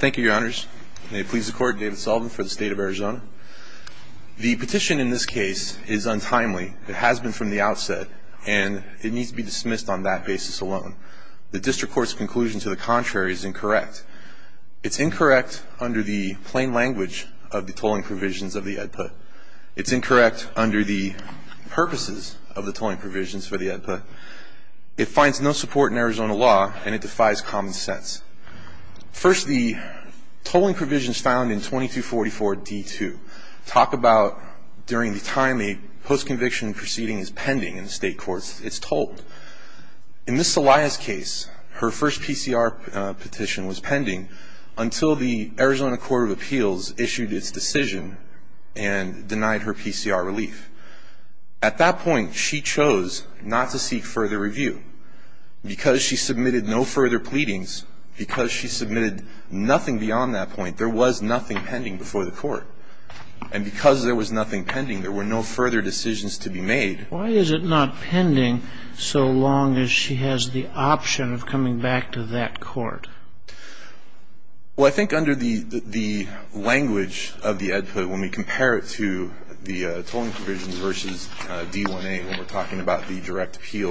Thank you, your honors. May it please the court, David Sullivan for the state of Arizona. The petition in this case is untimely. It has been from the outset. And it needs to be dismissed on that basis alone. The district court's conclusion to the contrary is incorrect. It's incorrect under the plain language of the tolling provisions of the ed put. It's incorrect under the purposes of the tolling provisions for the ed put. It finds no support in Arizona law, and it defies common sense. First, the tolling provisions found in 2244D2 talk about during the time the postconviction proceeding is pending in the state courts, it's tolled. In this Celaya's case, her first PCR petition was pending until the Arizona Court of Appeals issued its decision and denied her PCR relief. At that point, she chose not to seek further review. Because she submitted no further pleadings, because she submitted nothing beyond that point, there was nothing pending before the court. And because there was nothing pending, there were no further decisions to be made. Why is it not pending so long as she has the option of coming back to that court? Well, I think under the language of the ed put, when we compare it to the tolling provisions versus D1A when we're talking about the direct appeal,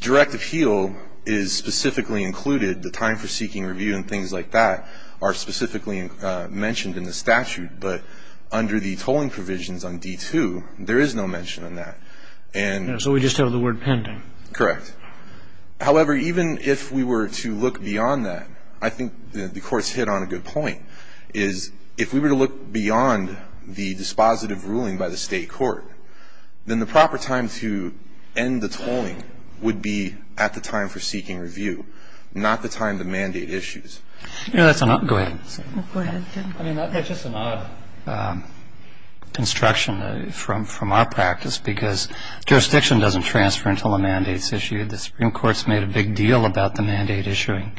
direct appeal is specifically included. The time for seeking review and things like that are specifically mentioned in the statute. But under the tolling provisions on D2, there is no mention of that. And so we just have the word pending. Correct. However, even if we were to look beyond that, I think the Court's hit on a good point, is if we were to look beyond the dispositive ruling by the State court, then the proper time to end the tolling would be at the time for seeking review, not the time the mandate issues. Go ahead. Go ahead, Jim. I mean, that's just an odd construction from our practice, because jurisdiction doesn't transfer until a mandate's issued. The Supreme Court's made a big deal about the mandate issuing.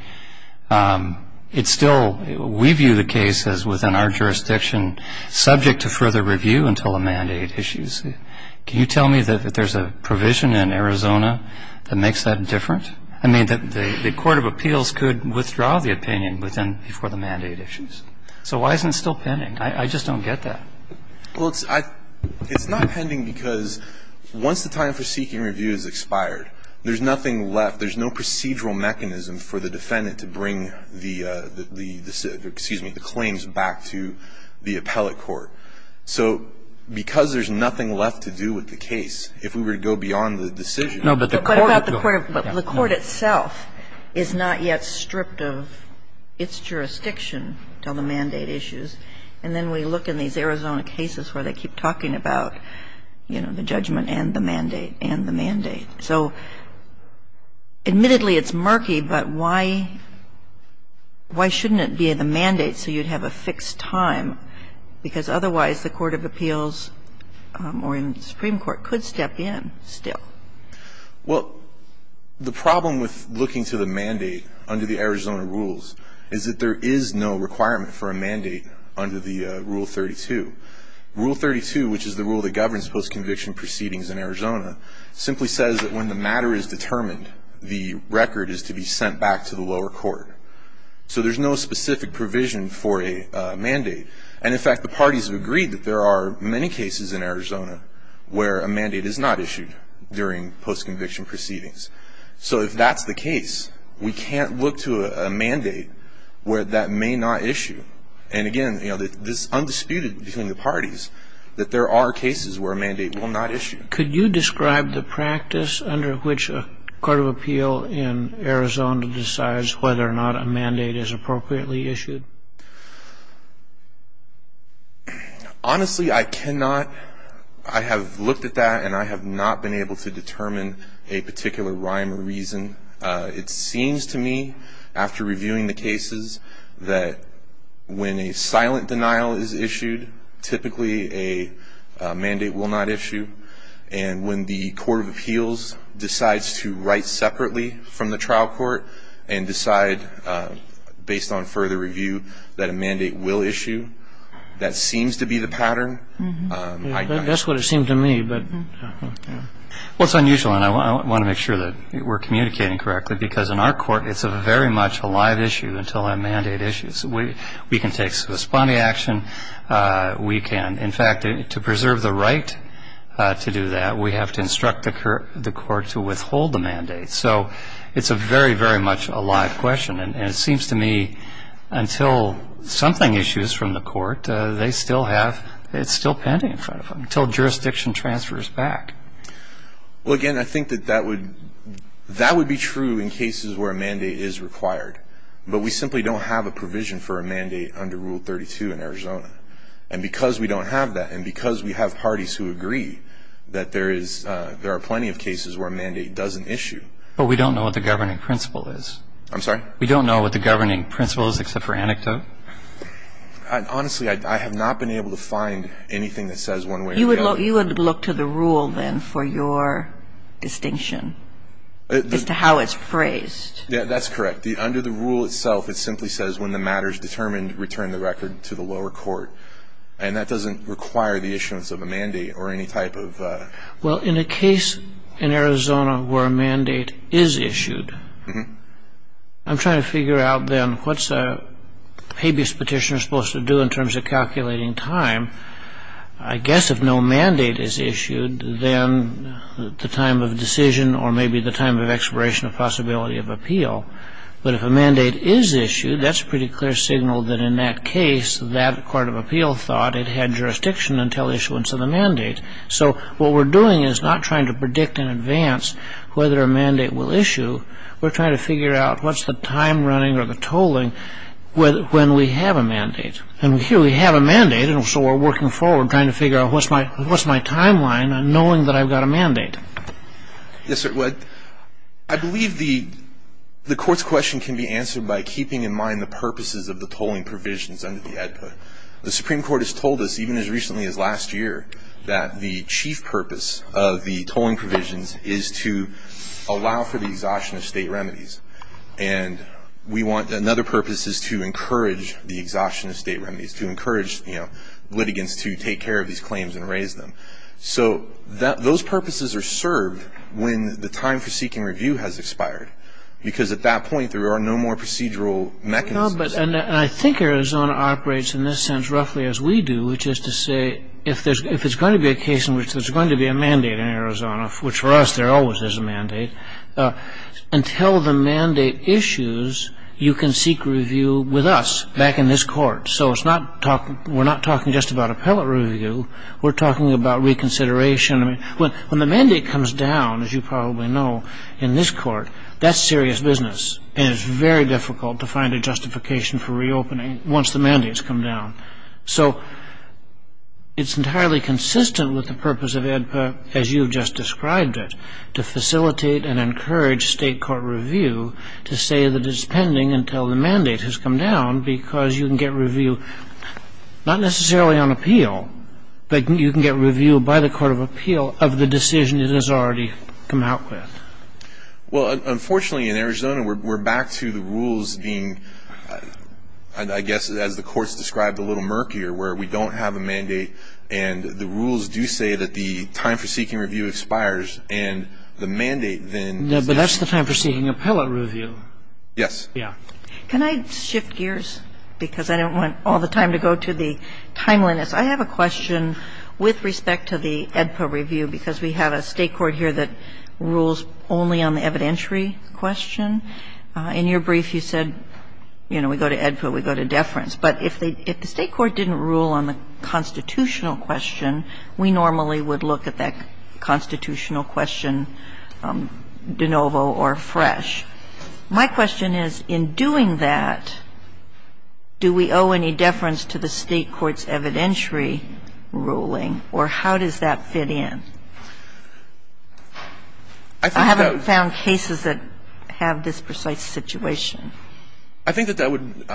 It's still we view the case as within our jurisdiction subject to further review until a mandate issues. Can you tell me that there's a provision in Arizona that makes that different? I mean, the Court of Appeals could withdraw the opinion before the mandate issues. So why isn't it still pending? I just don't get that. Well, it's not pending because once the time for seeking review has expired, there's nothing left. There's no procedural mechanism for the defendant to bring the claims back to the appellate court. So because there's nothing left to do with the case, if we were to go beyond the decision to do that. But the Court itself is not yet stripped of its jurisdiction until the mandate issues, and then we look in these Arizona cases where they keep talking about, you know, the judgment and the mandate and the mandate. So admittedly, it's murky, but why shouldn't it be the mandate so you'd have a fixed time, because otherwise the Court of Appeals or the Supreme Court could step in still? Well, the problem with looking to the mandate under the Arizona rules is that there is no requirement for a mandate under the Rule 32. Rule 32, which is the rule that governs post-conviction proceedings in Arizona, simply says that when the matter is determined, the record is to be sent back to the lower court. So there's no specific provision for a mandate. And in fact, the parties have agreed that there are many cases in Arizona where a mandate is not issued during post-conviction proceedings. So if that's the case, we can't look to a mandate where that may not issue. And again, you know, this is undisputed between the parties, that there are cases where a mandate will not issue. Could you describe the practice under which a court of appeal in Arizona decides whether or not a mandate is appropriately issued? Honestly, I cannot. I have looked at that and I have not been able to determine a particular rhyme or reason. It seems to me, after reviewing the cases, that when a silent denial is issued, typically a mandate will not issue. And when the court of appeals decides to write separately from the trial court and decide, based on further review, that a mandate will issue, that seems to be the pattern. That's what it seemed to me. Well, it's unusual, and I want to make sure that we're communicating correctly, because in our court, it's very much a live issue until a mandate issues. We can take responding action. We can, in fact, to preserve the right to do that, we have to instruct the court to withhold the mandate. So it's very, very much a live question. And it seems to me, until something issues from the court, they still have, it's still pending in front of them until jurisdiction transfers back. Well, again, I think that that would be true in cases where a mandate is required. But we simply don't have a provision for a mandate under Rule 32 in Arizona. And because we don't have that, and because we have parties who agree that there are plenty of cases where a mandate doesn't issue. But we don't know what the governing principle is. I'm sorry? We don't know what the governing principle is except for anecdote. Honestly, I have not been able to find anything that says one way or the other. You would look to the rule, then, for your distinction as to how it's phrased. Yeah, that's correct. Under the rule itself, it simply says when the matter is determined, return the record to the lower court. And that doesn't require the issuance of a mandate or any type of ‑‑ Well, in a case in Arizona where a mandate is issued, I'm trying to figure out, then, what's a habeas petitioner supposed to do in terms of calculating time? I guess if no mandate is issued, then the time of decision or maybe the time of expiration of possibility of appeal. But if a mandate is issued, that's a pretty clear signal that in that case that court of appeal thought it had jurisdiction until issuance of the mandate. So what we're doing is not trying to predict in advance whether a mandate will issue. We're trying to figure out what's the time running or the tolling when we have a mandate. And here we have a mandate, and so we're working forward, trying to figure out what's my timeline, knowing that I've got a mandate. Yes, sir. I believe the court's question can be answered by keeping in mind the purposes of the tolling provisions under the ad hoc. The Supreme Court has told us, even as recently as last year, that the chief purpose of the tolling provisions is to allow for the exhaustion of state remedies. And we want another purpose is to encourage the exhaustion of state remedies, to encourage, you know, litigants to take care of these claims and raise them. So those purposes are served when the time for seeking review has expired, because at that point there are no more procedural mechanisms. No, but I think Arizona operates in this sense roughly as we do, which is to say if there's going to be a case in which there's going to be a mandate in Arizona, which for us there always is a mandate, until the mandate issues you can seek review with us back in this court. So we're not talking just about appellate review. We're talking about reconsideration. When the mandate comes down, as you probably know, in this court, that's serious business, and it's very difficult to find a justification for reopening once the mandate's come down. So it's entirely consistent with the purpose of AEDPA, as you've just described it, to facilitate and encourage state court review to say that it's pending until the mandate has come down, because you can get review not necessarily on appeal, but you can get review by the court of appeal of the decision it has already come out with. Well, unfortunately, in Arizona, we're back to the rules being, I guess, as the courts described, a little murkier, where we don't have a mandate, and the rules do say that the time for seeking review expires, and the mandate, then, is the time for seeking appellate review. Yes. Can I shift gears, because I don't want all the time to go to the timeliness. I have a question with respect to the AEDPA review, because we have a state court here that rules only on the evidentiary question. In your brief, you said, you know, we go to AEDPA, we go to deference. But if the state court didn't rule on the constitutional question, we normally would look at that constitutional question de novo or fresh. My question is, in doing that, do we owe any deference to the state court's evidentiary ruling? Or how does that fit in? I haven't found cases that have this precise situation. I think that that would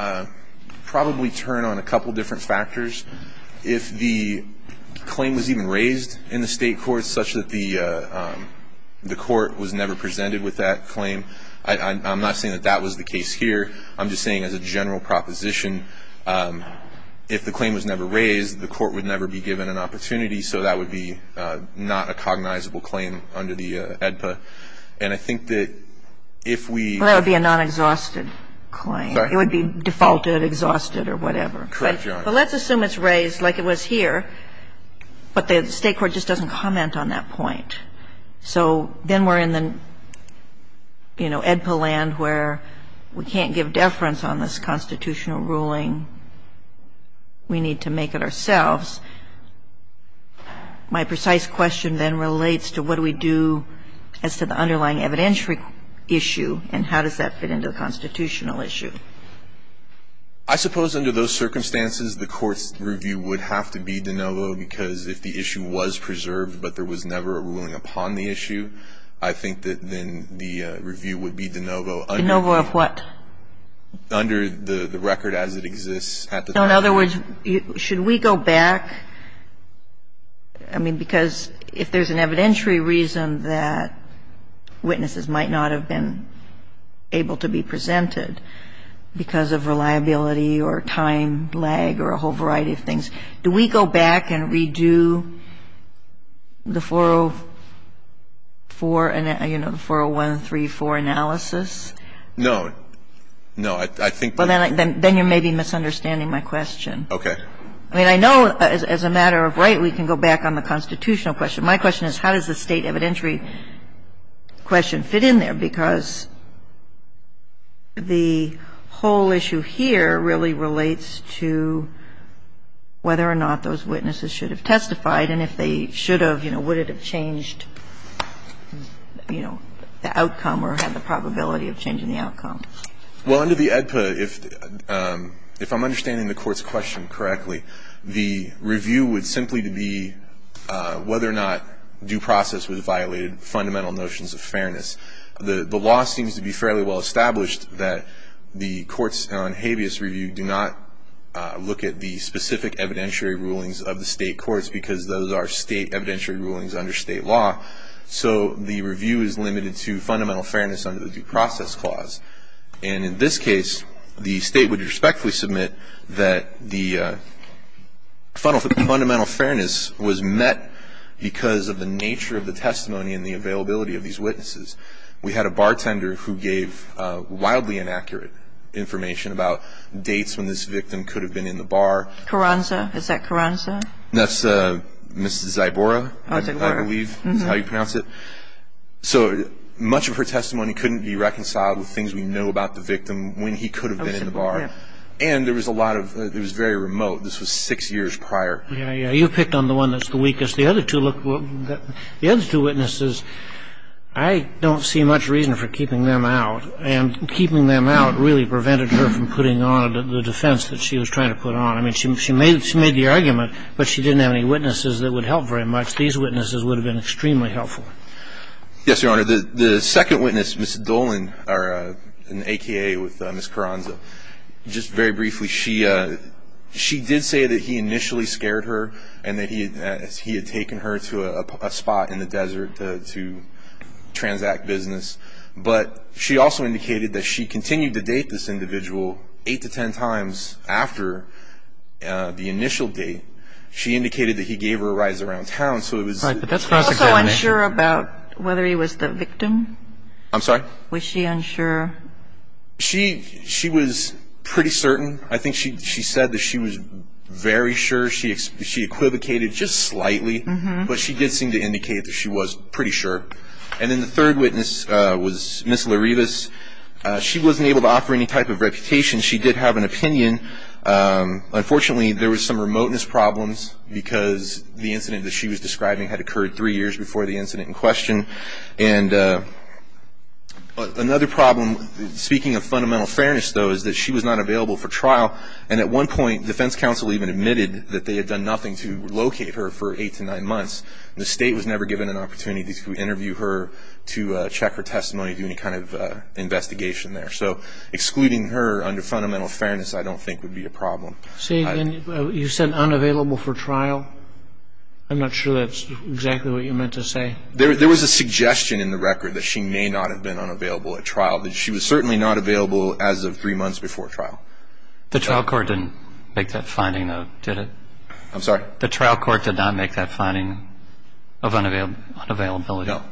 probably turn on a couple different factors. If the claim was even raised in the state court, such that the court was never presented with that claim, I'm not saying that that was the case here. I'm just saying as a general proposition, if the claim was never raised, the court would never be given an opportunity. So that would be not a cognizable claim under the AEDPA. And I think that if we ---- Well, that would be a non-exhausted claim. It would be defaulted, exhausted, or whatever. Correct, Your Honor. But let's assume it's raised like it was here, but the state court just doesn't comment on that point. So then we're in the, you know, AEDPA land where we can't give deference on this constitutional ruling. We need to make it ourselves. My precise question then relates to what do we do as to the underlying evidentiary issue, and how does that fit into the constitutional issue? I suppose under those circumstances, the court's review would have to be de novo because if the issue was preserved but there was never a ruling upon the issue, I think that then the review would be de novo. De novo of what? Under the record as it exists at the time. No. In other words, should we go back? I mean, because if there's an evidentiary reason that witnesses might not have been able to be presented because of reliability or time lag or a whole variety of things, do we go back and redo the 404, you know, the 401, 304 analysis? No. No. I think that's the question. Then you're maybe misunderstanding my question. Okay. I mean, I know as a matter of right we can go back on the constitutional question. My question is how does the state evidentiary question fit in there? Because the whole issue here really relates to whether or not those witnesses should have testified. And if they should have, you know, would it have changed, you know, the outcome or had the probability of changing the outcome? Well, under the AEDPA, if I'm understanding the Court's question correctly, the review would simply be whether or not due process violated fundamental notions of fairness. The law seems to be fairly well established that the courts on habeas review do not look at the specific evidentiary rulings of the state courts because those are state evidentiary rulings under state law. So the review is limited to fundamental fairness under the due process clause. And in this case, the state would respectfully submit that the fundamental fairness was met because of the nature of the testimony and the availability of these witnesses. We had a bartender who gave wildly inaccurate information about dates when this victim could have been in the bar. Carranza? Is that Carranza? That's Mrs. Zybora, I believe is how you pronounce it. So much of her testimony couldn't be reconciled with things we know about the victim when he could have been in the bar. And there was a lot of, it was very remote. This was six years prior. Yeah, yeah. You picked on the one that's the weakest. The other two look, the other two witnesses, I don't see much reason for keeping them out. And keeping them out really prevented her from putting on the defense that she was trying to put on. I mean, she made the argument, but she didn't have any witnesses that would help very much. These witnesses would have been extremely helpful. Yes, Your Honor. The second witness, Ms. Dolan, or an AKA with Ms. Carranza, just very briefly, she did say that he initially scared her and that he had taken her to a spot in the desert to transact business. But she also indicated that she continued to date this individual eight to ten times after the initial date. She indicated that he gave her a ride around town. Right, but that's cross-examination. Were you also unsure about whether he was the victim? I'm sorry? Was she unsure? She was pretty certain. I think she said that she was very sure. She equivocated just slightly, but she did seem to indicate that she was pretty sure. And then the third witness was Ms. Larivas. She wasn't able to offer any type of reputation. She did have an opinion. Unfortunately, there was some remoteness problems because the incident that she was describing had occurred three years before the incident in question. And another problem, speaking of fundamental fairness, though, is that she was not available for trial. And at one point, defense counsel even admitted that they had done nothing to locate her for eight to nine months. The state was never given an opportunity to interview her, to check her testimony, do any kind of investigation there. So excluding her under fundamental fairness I don't think would be a problem. So you said unavailable for trial? I'm not sure that's exactly what you meant to say. There was a suggestion in the record that she may not have been unavailable at trial, that she was certainly not available as of three months before trial. The trial court didn't make that finding, though, did it? I'm sorry? The trial court did not make that finding of unavailability. No,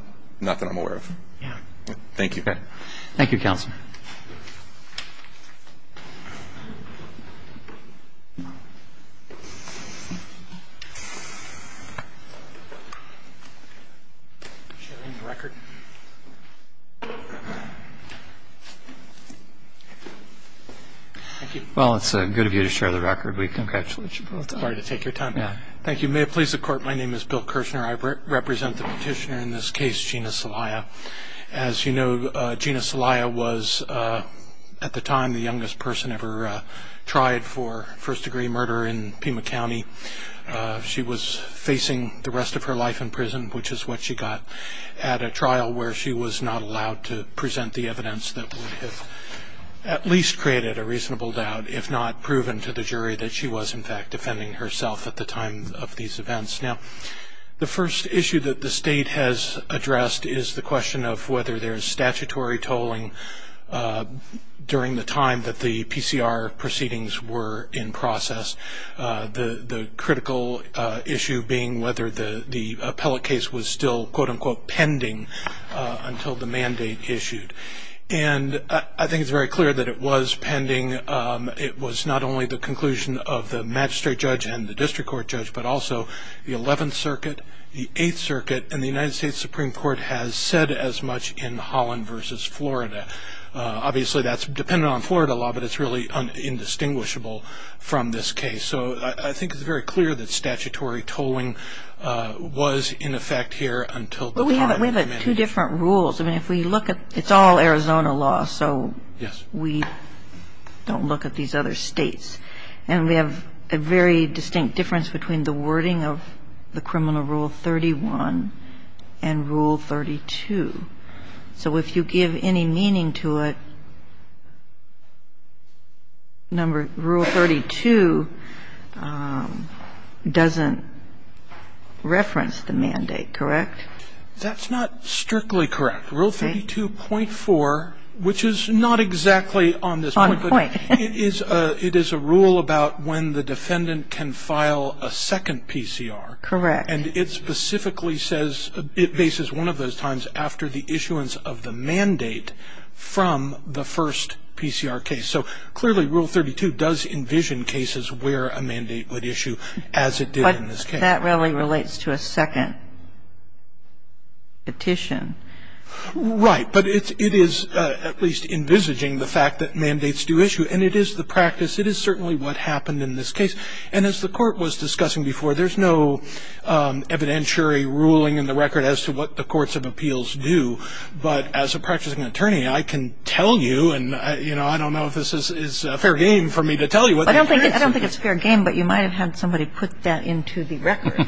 not that I'm aware of. Thank you. Thank you, Counselor. Share in the record. Thank you. Well, it's good of you to share the record. We congratulate you both. Sorry to take your time. Yeah. Thank you. May it please the Court, my name is Bill Kirshner. I represent the petitioner in this case, Gina Celaya. As you know, Gina Celaya was at the time the youngest person ever tried for first-degree murder in Pima County. She was facing the rest of her life in prison, which is what she got at a trial where she was not allowed to present the evidence that would have at least created a reasonable doubt, if not proven to the jury, that she was, in fact, defending herself at the time of these events. Now, the first issue that the State has addressed is the question of whether there is statutory tolling during the time that the PCR proceedings were in process. The critical issue being whether the appellate case was still, quote-unquote, pending until the mandate issued. And I think it's very clear that it was pending. It was not only the conclusion of the magistrate judge and the district court judge, but also the Eleventh Circuit, the Eighth Circuit, and the United States Supreme Court has said as much in Holland v. Florida. Obviously, that's dependent on Florida law, but it's really indistinguishable from this case. So I think it's very clear that statutory tolling was in effect here until the time it was mandated. But we have two different rules. I mean, if we look at – it's all Arizona law, so we don't look at these other states. And we have a very distinct difference between the wording of the criminal rule 31 and rule 32. So if you give any meaning to it, rule 32 doesn't reference the mandate, correct? That's not strictly correct. Rule 32.4, which is not exactly on this point. On point. It is a rule about when the defendant can file a second PCR. Correct. And it specifically says – it bases one of those times after the issuance of the mandate from the first PCR case. So clearly, rule 32 does envision cases where a mandate would issue as it did in this case. But that really relates to a second petition. Right. But it is at least envisaging the fact that mandates do issue. And it is the practice. It is certainly what happened in this case. And as the Court was discussing before, there's no evidentiary ruling in the record as to what the courts of appeals do. But as a practicing attorney, I can tell you, and, you know, I don't know if this is a fair game for me to tell you. I don't think it's a fair game, but you might have had somebody put that into the record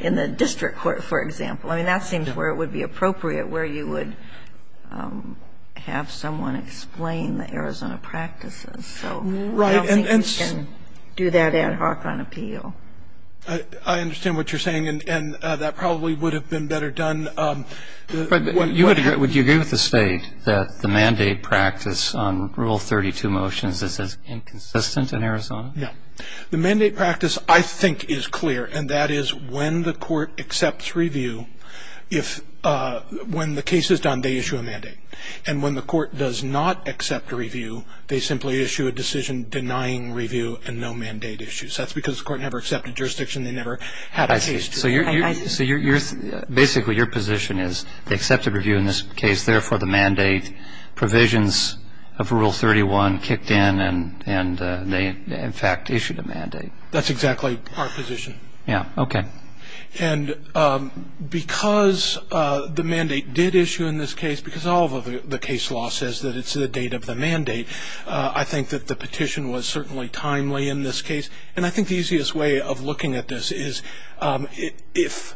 in the district court, for example. I mean, that seems where it would be appropriate, where you would have someone explain the Arizona practices. So I don't think you can do that ad hoc on appeal. I understand what you're saying, and that probably would have been better done. Would you agree with the State that the mandate practice on Rule 32 motions is inconsistent in Arizona? Yeah. The mandate practice, I think, is clear, and that is when the Court accepts review, when the case is done, they issue a mandate. And when the Court does not accept a review, they simply issue a decision denying review and no mandate issue. So that's because the Court never accepted jurisdiction. They never had a case. I see. So basically your position is they accepted review in this case. Therefore, the mandate provisions of Rule 31 kicked in, and they, in fact, issued a mandate. That's exactly our position. Yeah. Okay. And because the mandate did issue in this case, because all of the case law says that it's the date of the mandate, I think that the petition was certainly timely in this case. And I think the easiest way of looking at this is if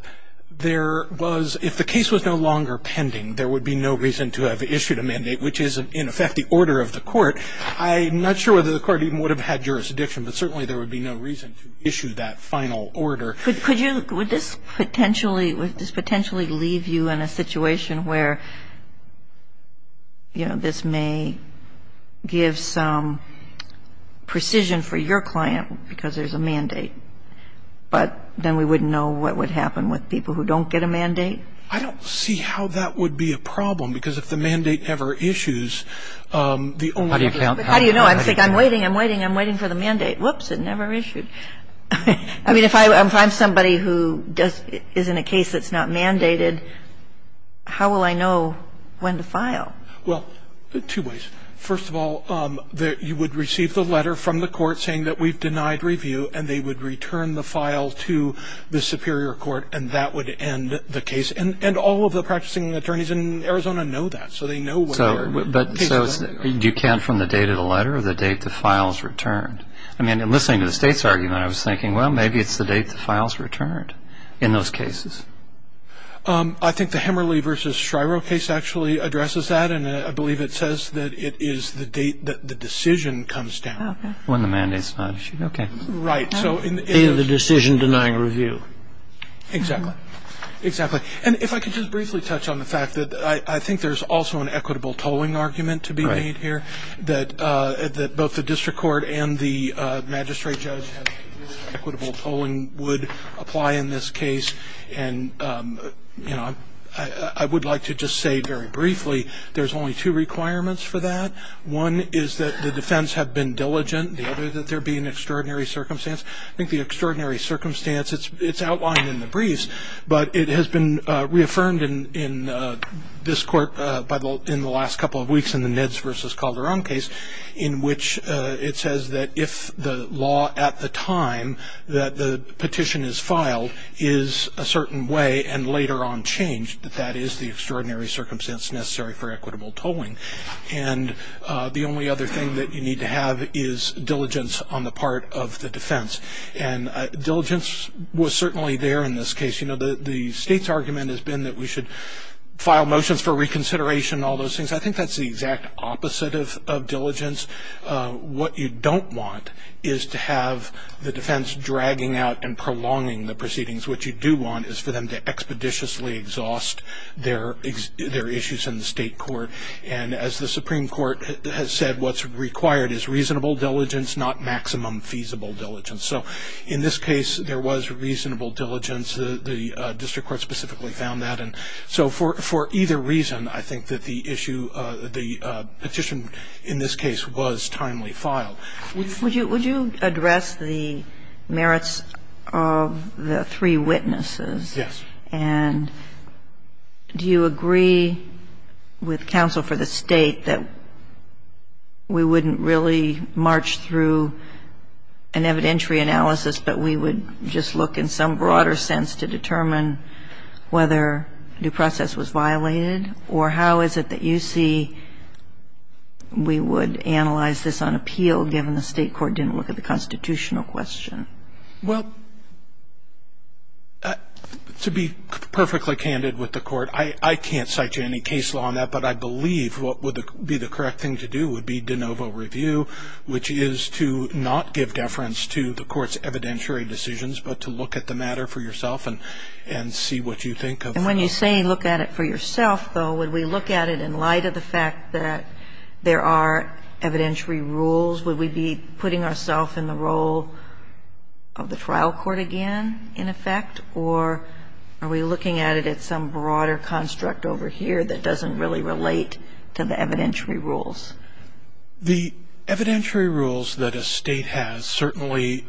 there was — if the case was no longer pending, there would be no reason to have issued a mandate, which is, in effect, the order of the Court. I'm not sure whether the Court even would have had jurisdiction, but certainly there would be no reason to issue that final order. Could you — would this potentially — would this potentially leave you in a situation where, you know, this may give some precision for your client because there's a mandate, but then we wouldn't know what would happen with people who don't get a mandate? I don't see how that would be a problem, because if the mandate ever issues, the only way to do it is to wait. How do you know? I'm waiting, I'm waiting, I'm waiting for the mandate. Whoops, it never issued. I mean, if I'm somebody who does — is in a case that's not mandated, how will I know when to file? Well, two ways. First of all, you would receive the letter from the Court saying that we've denied review, and they would return the file to the superior court, and that would end the case. And all of the practicing attorneys in Arizona know that. So they know where the case ended. So do you count from the date of the letter or the date the file is returned? I mean, in listening to the State's argument, I was thinking, well, maybe it's the date the file is returned in those cases. I think the Hemerly v. Shryro case actually addresses that, and I believe it says that it is the date that the decision comes down. When the mandate's not issued, okay. Right, so in the — In the decision denying review. Exactly, exactly. And if I could just briefly touch on the fact that I think there's also an equitable tolling argument to be made here, that both the district court and the magistrate judge have — equitable tolling would apply in this case. And, you know, I would like to just say very briefly there's only two requirements for that. One is that the defense have been diligent. The other is that there be an extraordinary circumstance. I think the extraordinary circumstance, it's outlined in the briefs, but it has been reaffirmed in this court in the last couple of weeks in the Neds v. Calderon case, in which it says that if the law at the time that the petition is filed is a certain way and later on changed that that is the extraordinary circumstance necessary for equitable tolling. And the only other thing that you need to have is diligence on the part of the defense. And diligence was certainly there in this case. You know, the state's argument has been that we should file motions for reconsideration, all those things. I think that's the exact opposite of diligence. What you don't want is to have the defense dragging out and prolonging the proceedings. What you do want is for them to expeditiously exhaust their issues in the state court. And as the Supreme Court has said, what's required is reasonable diligence, not maximum feasible diligence. So in this case, there was reasonable diligence. The district court specifically found that. And so for either reason, I think that the issue, the petition in this case was timely filed. Would you address the merits of the three witnesses? Yes. And do you agree with counsel for the State that we wouldn't really march through an evidentiary analysis, but we would just look in some broader sense to determine whether due process was violated? Or how is it that you see we would analyze this on appeal, given the state court didn't look at the constitutional question? Well, to be perfectly candid with the Court, I can't cite you any case law on that. But I believe what would be the correct thing to do would be de novo review, which is to not give deference to the Court's evidentiary decisions, but to look at the matter for yourself and see what you think of the matter. And when you say look at it for yourself, though, would we look at it in light of the trial court again, in effect? Or are we looking at it at some broader construct over here that doesn't really relate to the evidentiary rules? The evidentiary rules that a State has certainly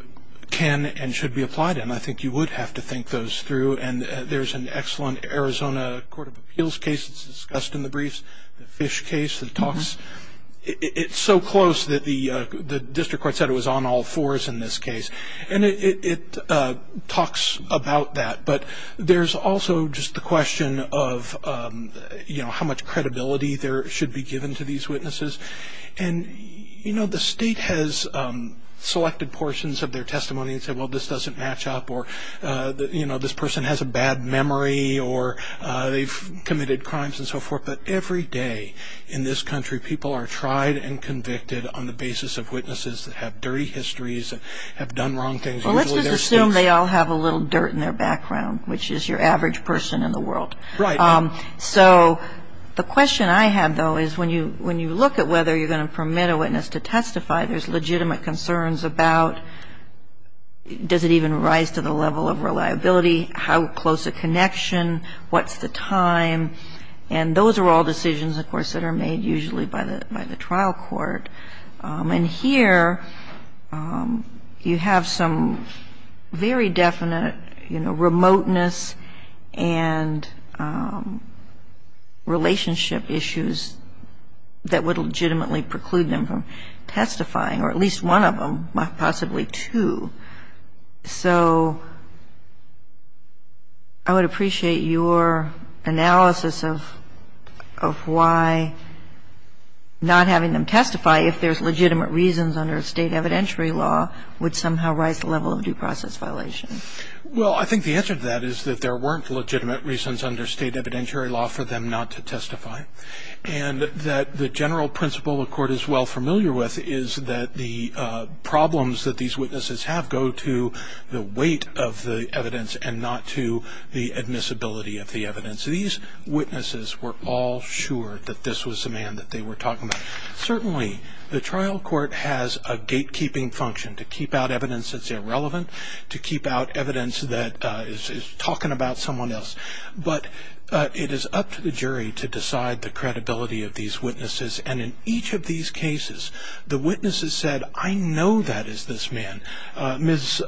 can and should be applied in. I think you would have to think those through. And there's an excellent Arizona Court of Appeals case that's discussed in the briefs, the Fish case, the talks. It's so close that the district court said it was on all fours in this case. And it talks about that. But there's also just the question of how much credibility there should be given to these witnesses. And the State has selected portions of their testimony and said, well, this doesn't match up, or this person has a bad memory, or they've committed crimes and so forth. But every day in this country people are tried and convicted on the basis of witnesses that have dirty histories and have done wrong things. Usually they're states. Well, let's just assume they all have a little dirt in their background, which is your average person in the world. Right. So the question I have, though, is when you look at whether you're going to permit a witness to testify, there's legitimate concerns about does it even rise to the level of reliability, how close a connection, what's the time. And those are all decisions, of course, that are made usually by the trial court. And here you have some very definite, you know, remoteness and relationship issues that would legitimately preclude them from testifying, or at least one of them, possibly two. So I would appreciate your analysis of why not having them testify, if there's legitimate reasons under State evidentiary law, would somehow rise the level of due process violation. Well, I think the answer to that is that there weren't legitimate reasons under State evidentiary law for them not to testify, and that the general principle the Court is well familiar with is that the problems that these witnesses have go to the weight of the evidence and not to the admissibility of the evidence. These witnesses were all sure that this was the man that they were talking about. Certainly, the trial court has a gatekeeping function to keep out evidence that's irrelevant, to keep out evidence that is talking about someone else. But it is up to the jury to decide the credibility of these witnesses. And in each of these cases, the witnesses said, I know that is this man. Ms.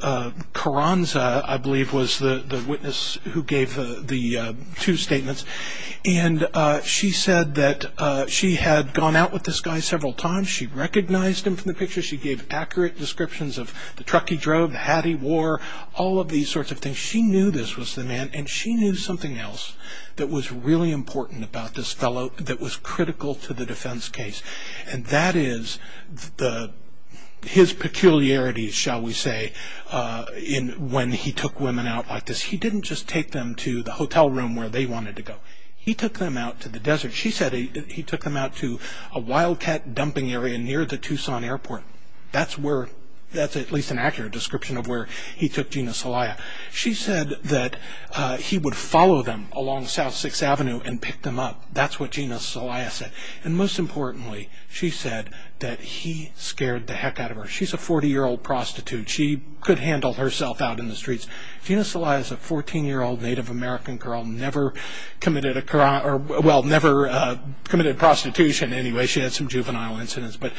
Carranza, I believe, was the witness who gave the two statements. And she said that she had gone out with this guy several times. She recognized him from the pictures. She gave accurate descriptions of the truck he drove, the hat he wore, all of these sorts of things. She knew this was the man, and she knew something else that was really important about this fellow that was critical to the defense case. And that is his peculiarities, shall we say, when he took women out like this. He didn't just take them to the hotel room where they wanted to go. He took them out to the desert. She said he took them out to a wildcat dumping area near the Tucson Airport. That's at least an accurate description of where he took Gina Celaya. She said that he would follow them along South 6th Avenue and pick them up. That's what Gina Celaya said. And most importantly, she said that he scared the heck out of her. She's a 40-year-old prostitute. She could handle herself out in the streets. Gina Celaya is a 14-year-old Native American girl, never committed a crime, well, never committed prostitution. Anyway, she had some juvenile incidents. But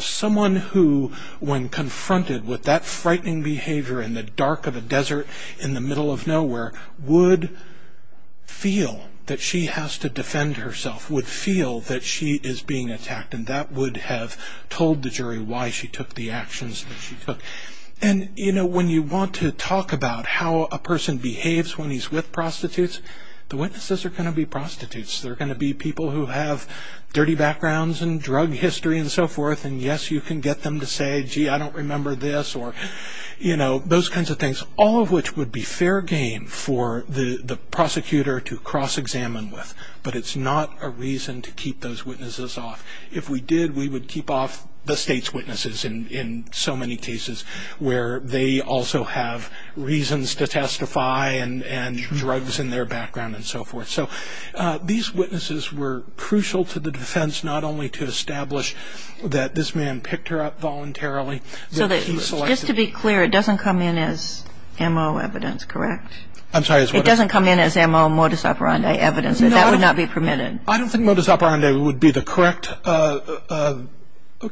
someone who, when confronted with that frightening behavior in the dark of a desert, in the middle of nowhere, would feel that she has to defend herself, would feel that she is being attacked, and that would have told the jury why she took the actions that she took. And, you know, when you want to talk about how a person behaves when he's with prostitutes, the witnesses are going to be prostitutes. They're going to be people who have dirty backgrounds and drug history and so forth. And, yes, you can get them to say, gee, I don't remember this or, you know, those kinds of things, all of which would be fair game for the prosecutor to cross-examine with. But it's not a reason to keep those witnesses off. If we did, we would keep off the state's witnesses in so many cases where they also have reasons to testify and drugs in their background and so forth. So these witnesses were crucial to the defense, not only to establish that this man picked her up voluntarily. So just to be clear, it doesn't come in as M.O. evidence, correct? I'm sorry. It doesn't come in as M.O., modus operandi evidence? No. That would not be permitted? I don't think modus operandi would be the correct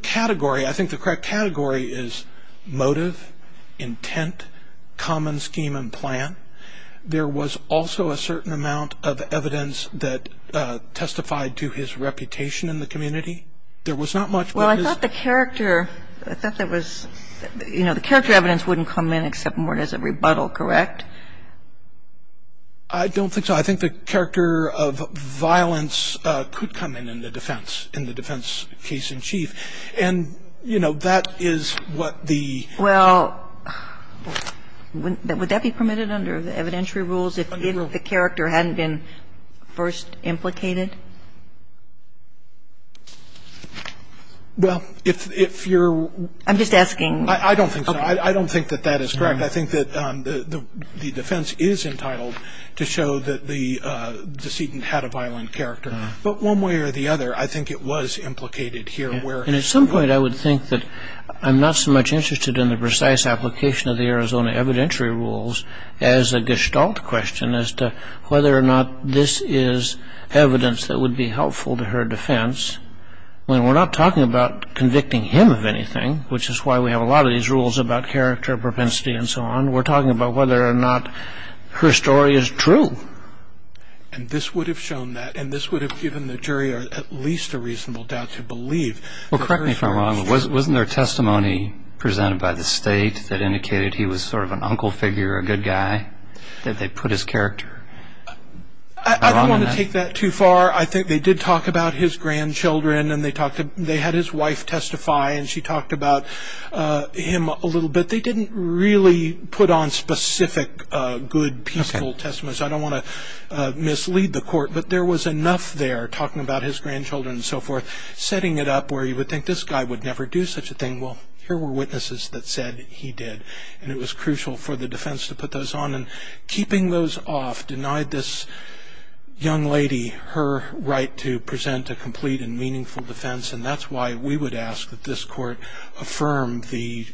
category. I think the correct category is motive, intent, common scheme and plan. There was also a certain amount of evidence that testified to his reputation in the community. There was not much that his ---- Well, I thought the character, I thought there was, you know, the character evidence wouldn't come in except in mort as a rebuttal, correct? I don't think so. I think the character of violence could come in in the defense, in the defense case in chief. And, you know, that is what the ---- Well, would that be permitted under the evidentiary rules if the character hadn't been first implicated? Well, if you're ---- I'm just asking. I don't think so. I don't think that that is correct. I think that the defense is entitled to show that the decedent had a violent character. But one way or the other, I think it was implicated here where ---- And at some point I would think that I'm not so much interested in the precise application of the Arizona evidentiary rules as a gestalt question as to whether or not this is evidence that would be helpful to her defense. I mean, we're not talking about convicting him of anything, which is why we have a lot of these rules about character, propensity, and so on. We're talking about whether or not her story is true. And this would have shown that, and this would have given the jury at least a reasonable doubt to believe. Well, correct me if I'm wrong, but wasn't there testimony presented by the state that indicated he was sort of an uncle figure, a good guy, that they put his character? I don't want to take that too far. I think they did talk about his grandchildren, and they had his wife testify, and she talked about him a little bit. They didn't really put on specific good, peaceful testimony, so I don't want to mislead the court. But there was enough there, talking about his grandchildren and so forth, setting it up where you would think this guy would never do such a thing. Well, here were witnesses that said he did, and it was crucial for the defense to put those on. And keeping those off denied this young lady her right to present a complete and meaningful defense, and that's why we would ask that this court affirm the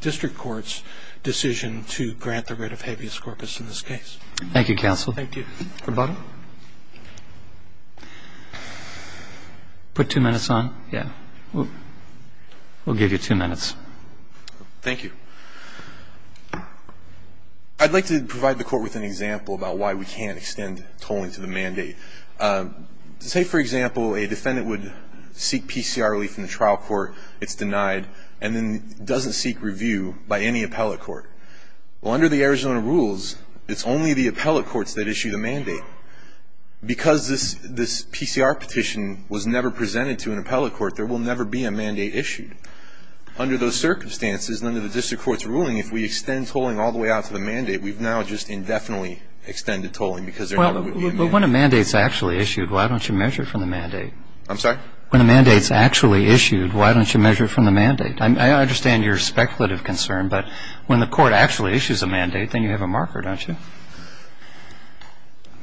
district court's decision to grant the writ of habeas corpus in this case. Thank you, counsel. Thank you. Rebuttal? Put two minutes on? Yeah. We'll give you two minutes. Thank you. I'd like to provide the court with an example about why we can't extend tolling to the mandate. To say, for example, a defendant would seek PCR relief in the trial court, it's denied, and then doesn't seek review by any appellate court. Well, under the Arizona rules, it's only the appellate courts that issue the mandate. Because this PCR petition was never presented to an appellate court, there will never be a mandate issued. Under those circumstances, under the district court's ruling, if we extend tolling all the way out to the mandate, we've now just indefinitely extended tolling because there never would be a mandate. Well, when a mandate's actually issued, why don't you measure from the mandate? I'm sorry? When a mandate's actually issued, why don't you measure from the mandate? I understand your speculative concern, but when the court actually issues a mandate, then you have a marker, don't you?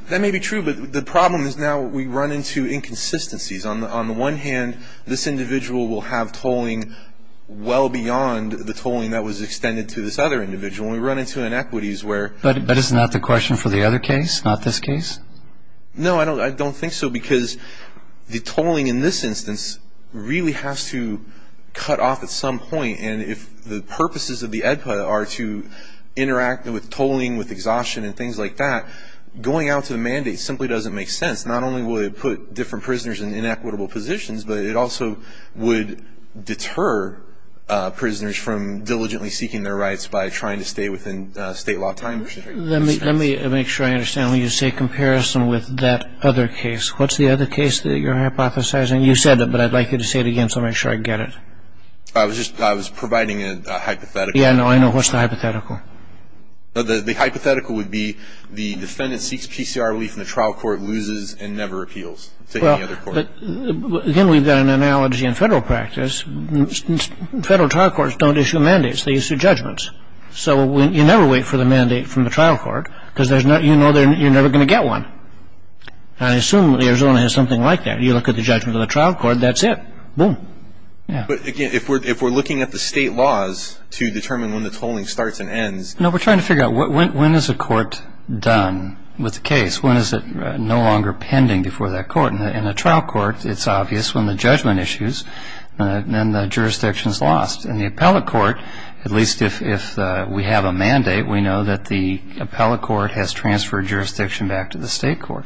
That may be true, but the problem is now we run into inconsistencies. On the one hand, this individual will have tolling well beyond the tolling that was extended to this other individual. We run into inequities where ---- But isn't that the question for the other case, not this case? No, I don't think so, because the tolling in this instance really has to cut off at some point. And if the purposes of the AEDPA are to interact with tolling, with exhaustion and things like that, going out to the mandate simply doesn't make sense. Not only will it put different prisoners in inequitable positions, but it also would deter prisoners from diligently seeking their rights by trying to stay within state law time. Let me make sure I understand when you say comparison with that other case. What's the other case that you're hypothesizing? You said it, but I'd like you to say it again, so I'll make sure I get it. I was providing a hypothetical. Yeah, I know. What's the hypothetical? The hypothetical would be the defendant seeks PCR relief and the trial court loses and never appeals to any other court. Again, we've got an analogy in federal practice. Federal trial courts don't issue mandates. They issue judgments. So you never wait for the mandate from the trial court because you know you're never going to get one. And I assume Arizona has something like that. You look at the judgment of the trial court, that's it. Boom. But, again, if we're looking at the state laws to determine when the tolling starts and ends. No, we're trying to figure out when is a court done with the case? When is it no longer pending before that court? In a trial court, it's obvious when the judgment issues and the jurisdiction is lost. In the appellate court, at least if we have a mandate, we know that the appellate court has transferred jurisdiction back to the state court.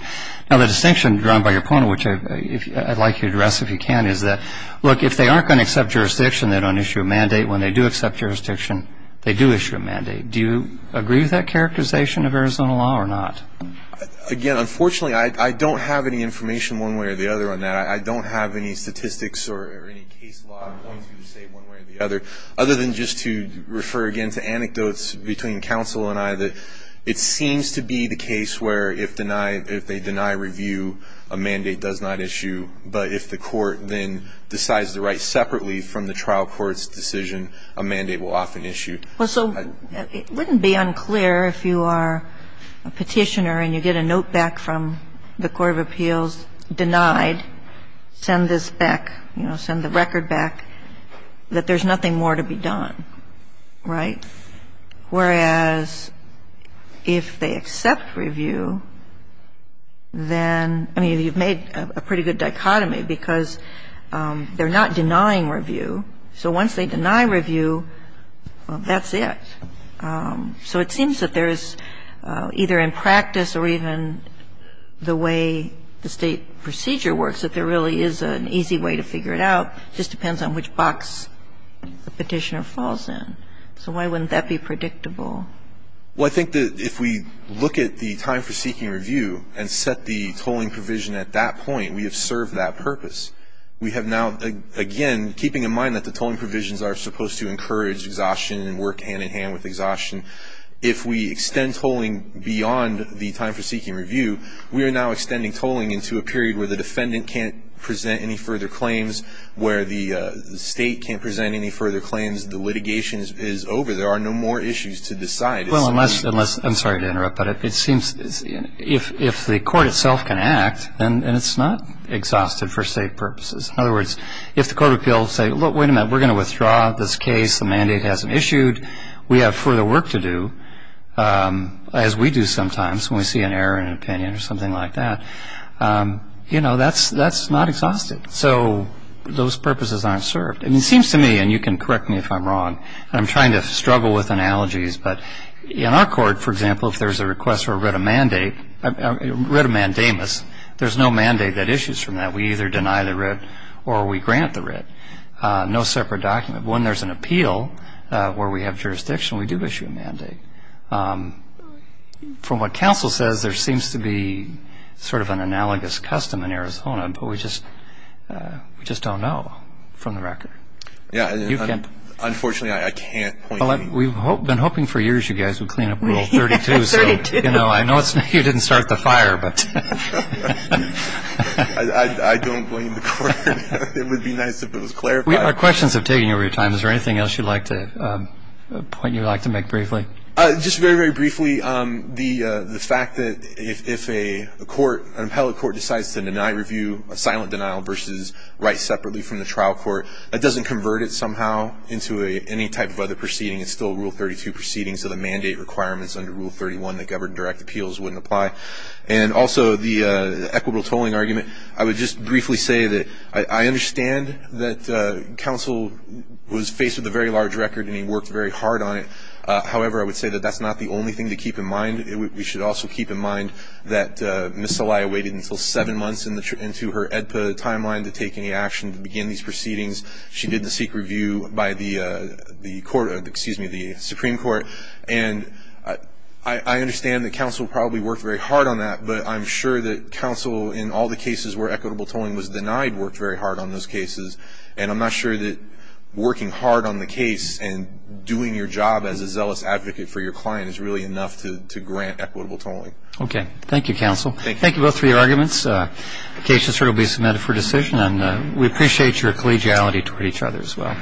Now, the distinction drawn by your point, which I'd like you to address if you can, is that, look, if they aren't going to accept jurisdiction, they don't issue a mandate. When they do accept jurisdiction, they do issue a mandate. Do you agree with that characterization of Arizona law or not? Again, unfortunately, I don't have any information one way or the other on that. I don't have any statistics or any case law I'm going to say one way or the other, other than just to refer again to anecdotes between counsel and I that it seems to be the case where if denied, if they deny review, a mandate does not issue. But if the court then decides to write separately from the trial court's decision, a mandate will often issue. Well, so it wouldn't be unclear if you are a petitioner and you get a note back from the court of appeals denied, send this back, you know, send the record back, that there's nothing more to be done, right? Whereas if they accept review, then you've made a pretty good dichotomy because they're not denying review. So once they deny review, well, that's it. So it seems that there is, either in practice or even the way the State procedure works, that there really is an easy way to figure it out. It just depends on which box the petitioner falls in. So why wouldn't that be predictable? Well, I think that if we look at the time for seeking review and set the tolling provision at that point, we have served that purpose. We have now, again, keeping in mind that the tolling provisions are supposed to encourage exhaustion and work hand in hand with exhaustion. If we extend tolling beyond the time for seeking review, we are now extending tolling into a period where the defendant can't present any further claims, where the State can't present any further claims. The litigation is over. There are no more issues to decide. Well, I'm sorry to interrupt, but it seems if the court itself can act, then it's not exhausted for State purposes. In other words, if the court of appeals say, look, wait a minute, we're going to withdraw this case. The mandate hasn't issued. We have further work to do, as we do sometimes when we see an error in an opinion or something like that. You know, that's not exhausted. So those purposes aren't served. It seems to me, and you can correct me if I'm wrong, and I'm trying to struggle with analogies, but in our court, for example, if there's a request for a writ of mandate, a writ of mandamus, We either deny the writ or we grant the writ. No separate document. When there's an appeal where we have jurisdiction, we do issue a mandate. From what counsel says, there seems to be sort of an analogous custom in Arizona, but we just don't know from the record. Yeah. Unfortunately, I can't point you. Well, we've been hoping for years you guys would clean up Rule 32. Me? I don't blame the court. It would be nice if it was clarified. Our questions have taken over your time. Is there anything else you'd like to point, you'd like to make briefly? Just very, very briefly, the fact that if a court, an appellate court, decides to deny review, a silent denial versus writ separately from the trial court, that doesn't convert it somehow into any type of other proceeding. It's still Rule 32 proceeding, so the mandate requirements under Rule 31 that govern direct appeals wouldn't apply. And also the equitable tolling argument. I would just briefly say that I understand that counsel was faced with a very large record and he worked very hard on it. However, I would say that that's not the only thing to keep in mind. We should also keep in mind that Ms. Saleh waited until seven months into her EDPA timeline to take any action to begin these proceedings. She did the secret review by the Supreme Court. And I understand that counsel probably worked very hard on that, but I'm sure that counsel, in all the cases where equitable tolling was denied, worked very hard on those cases. And I'm not sure that working hard on the case and doing your job as a zealous advocate for your client is really enough to grant equitable tolling. Okay. Thank you, counsel. Thank you. Thank you, both, for your arguments. The case has certainly been submitted for decision, and we appreciate your collegiality toward each other as well.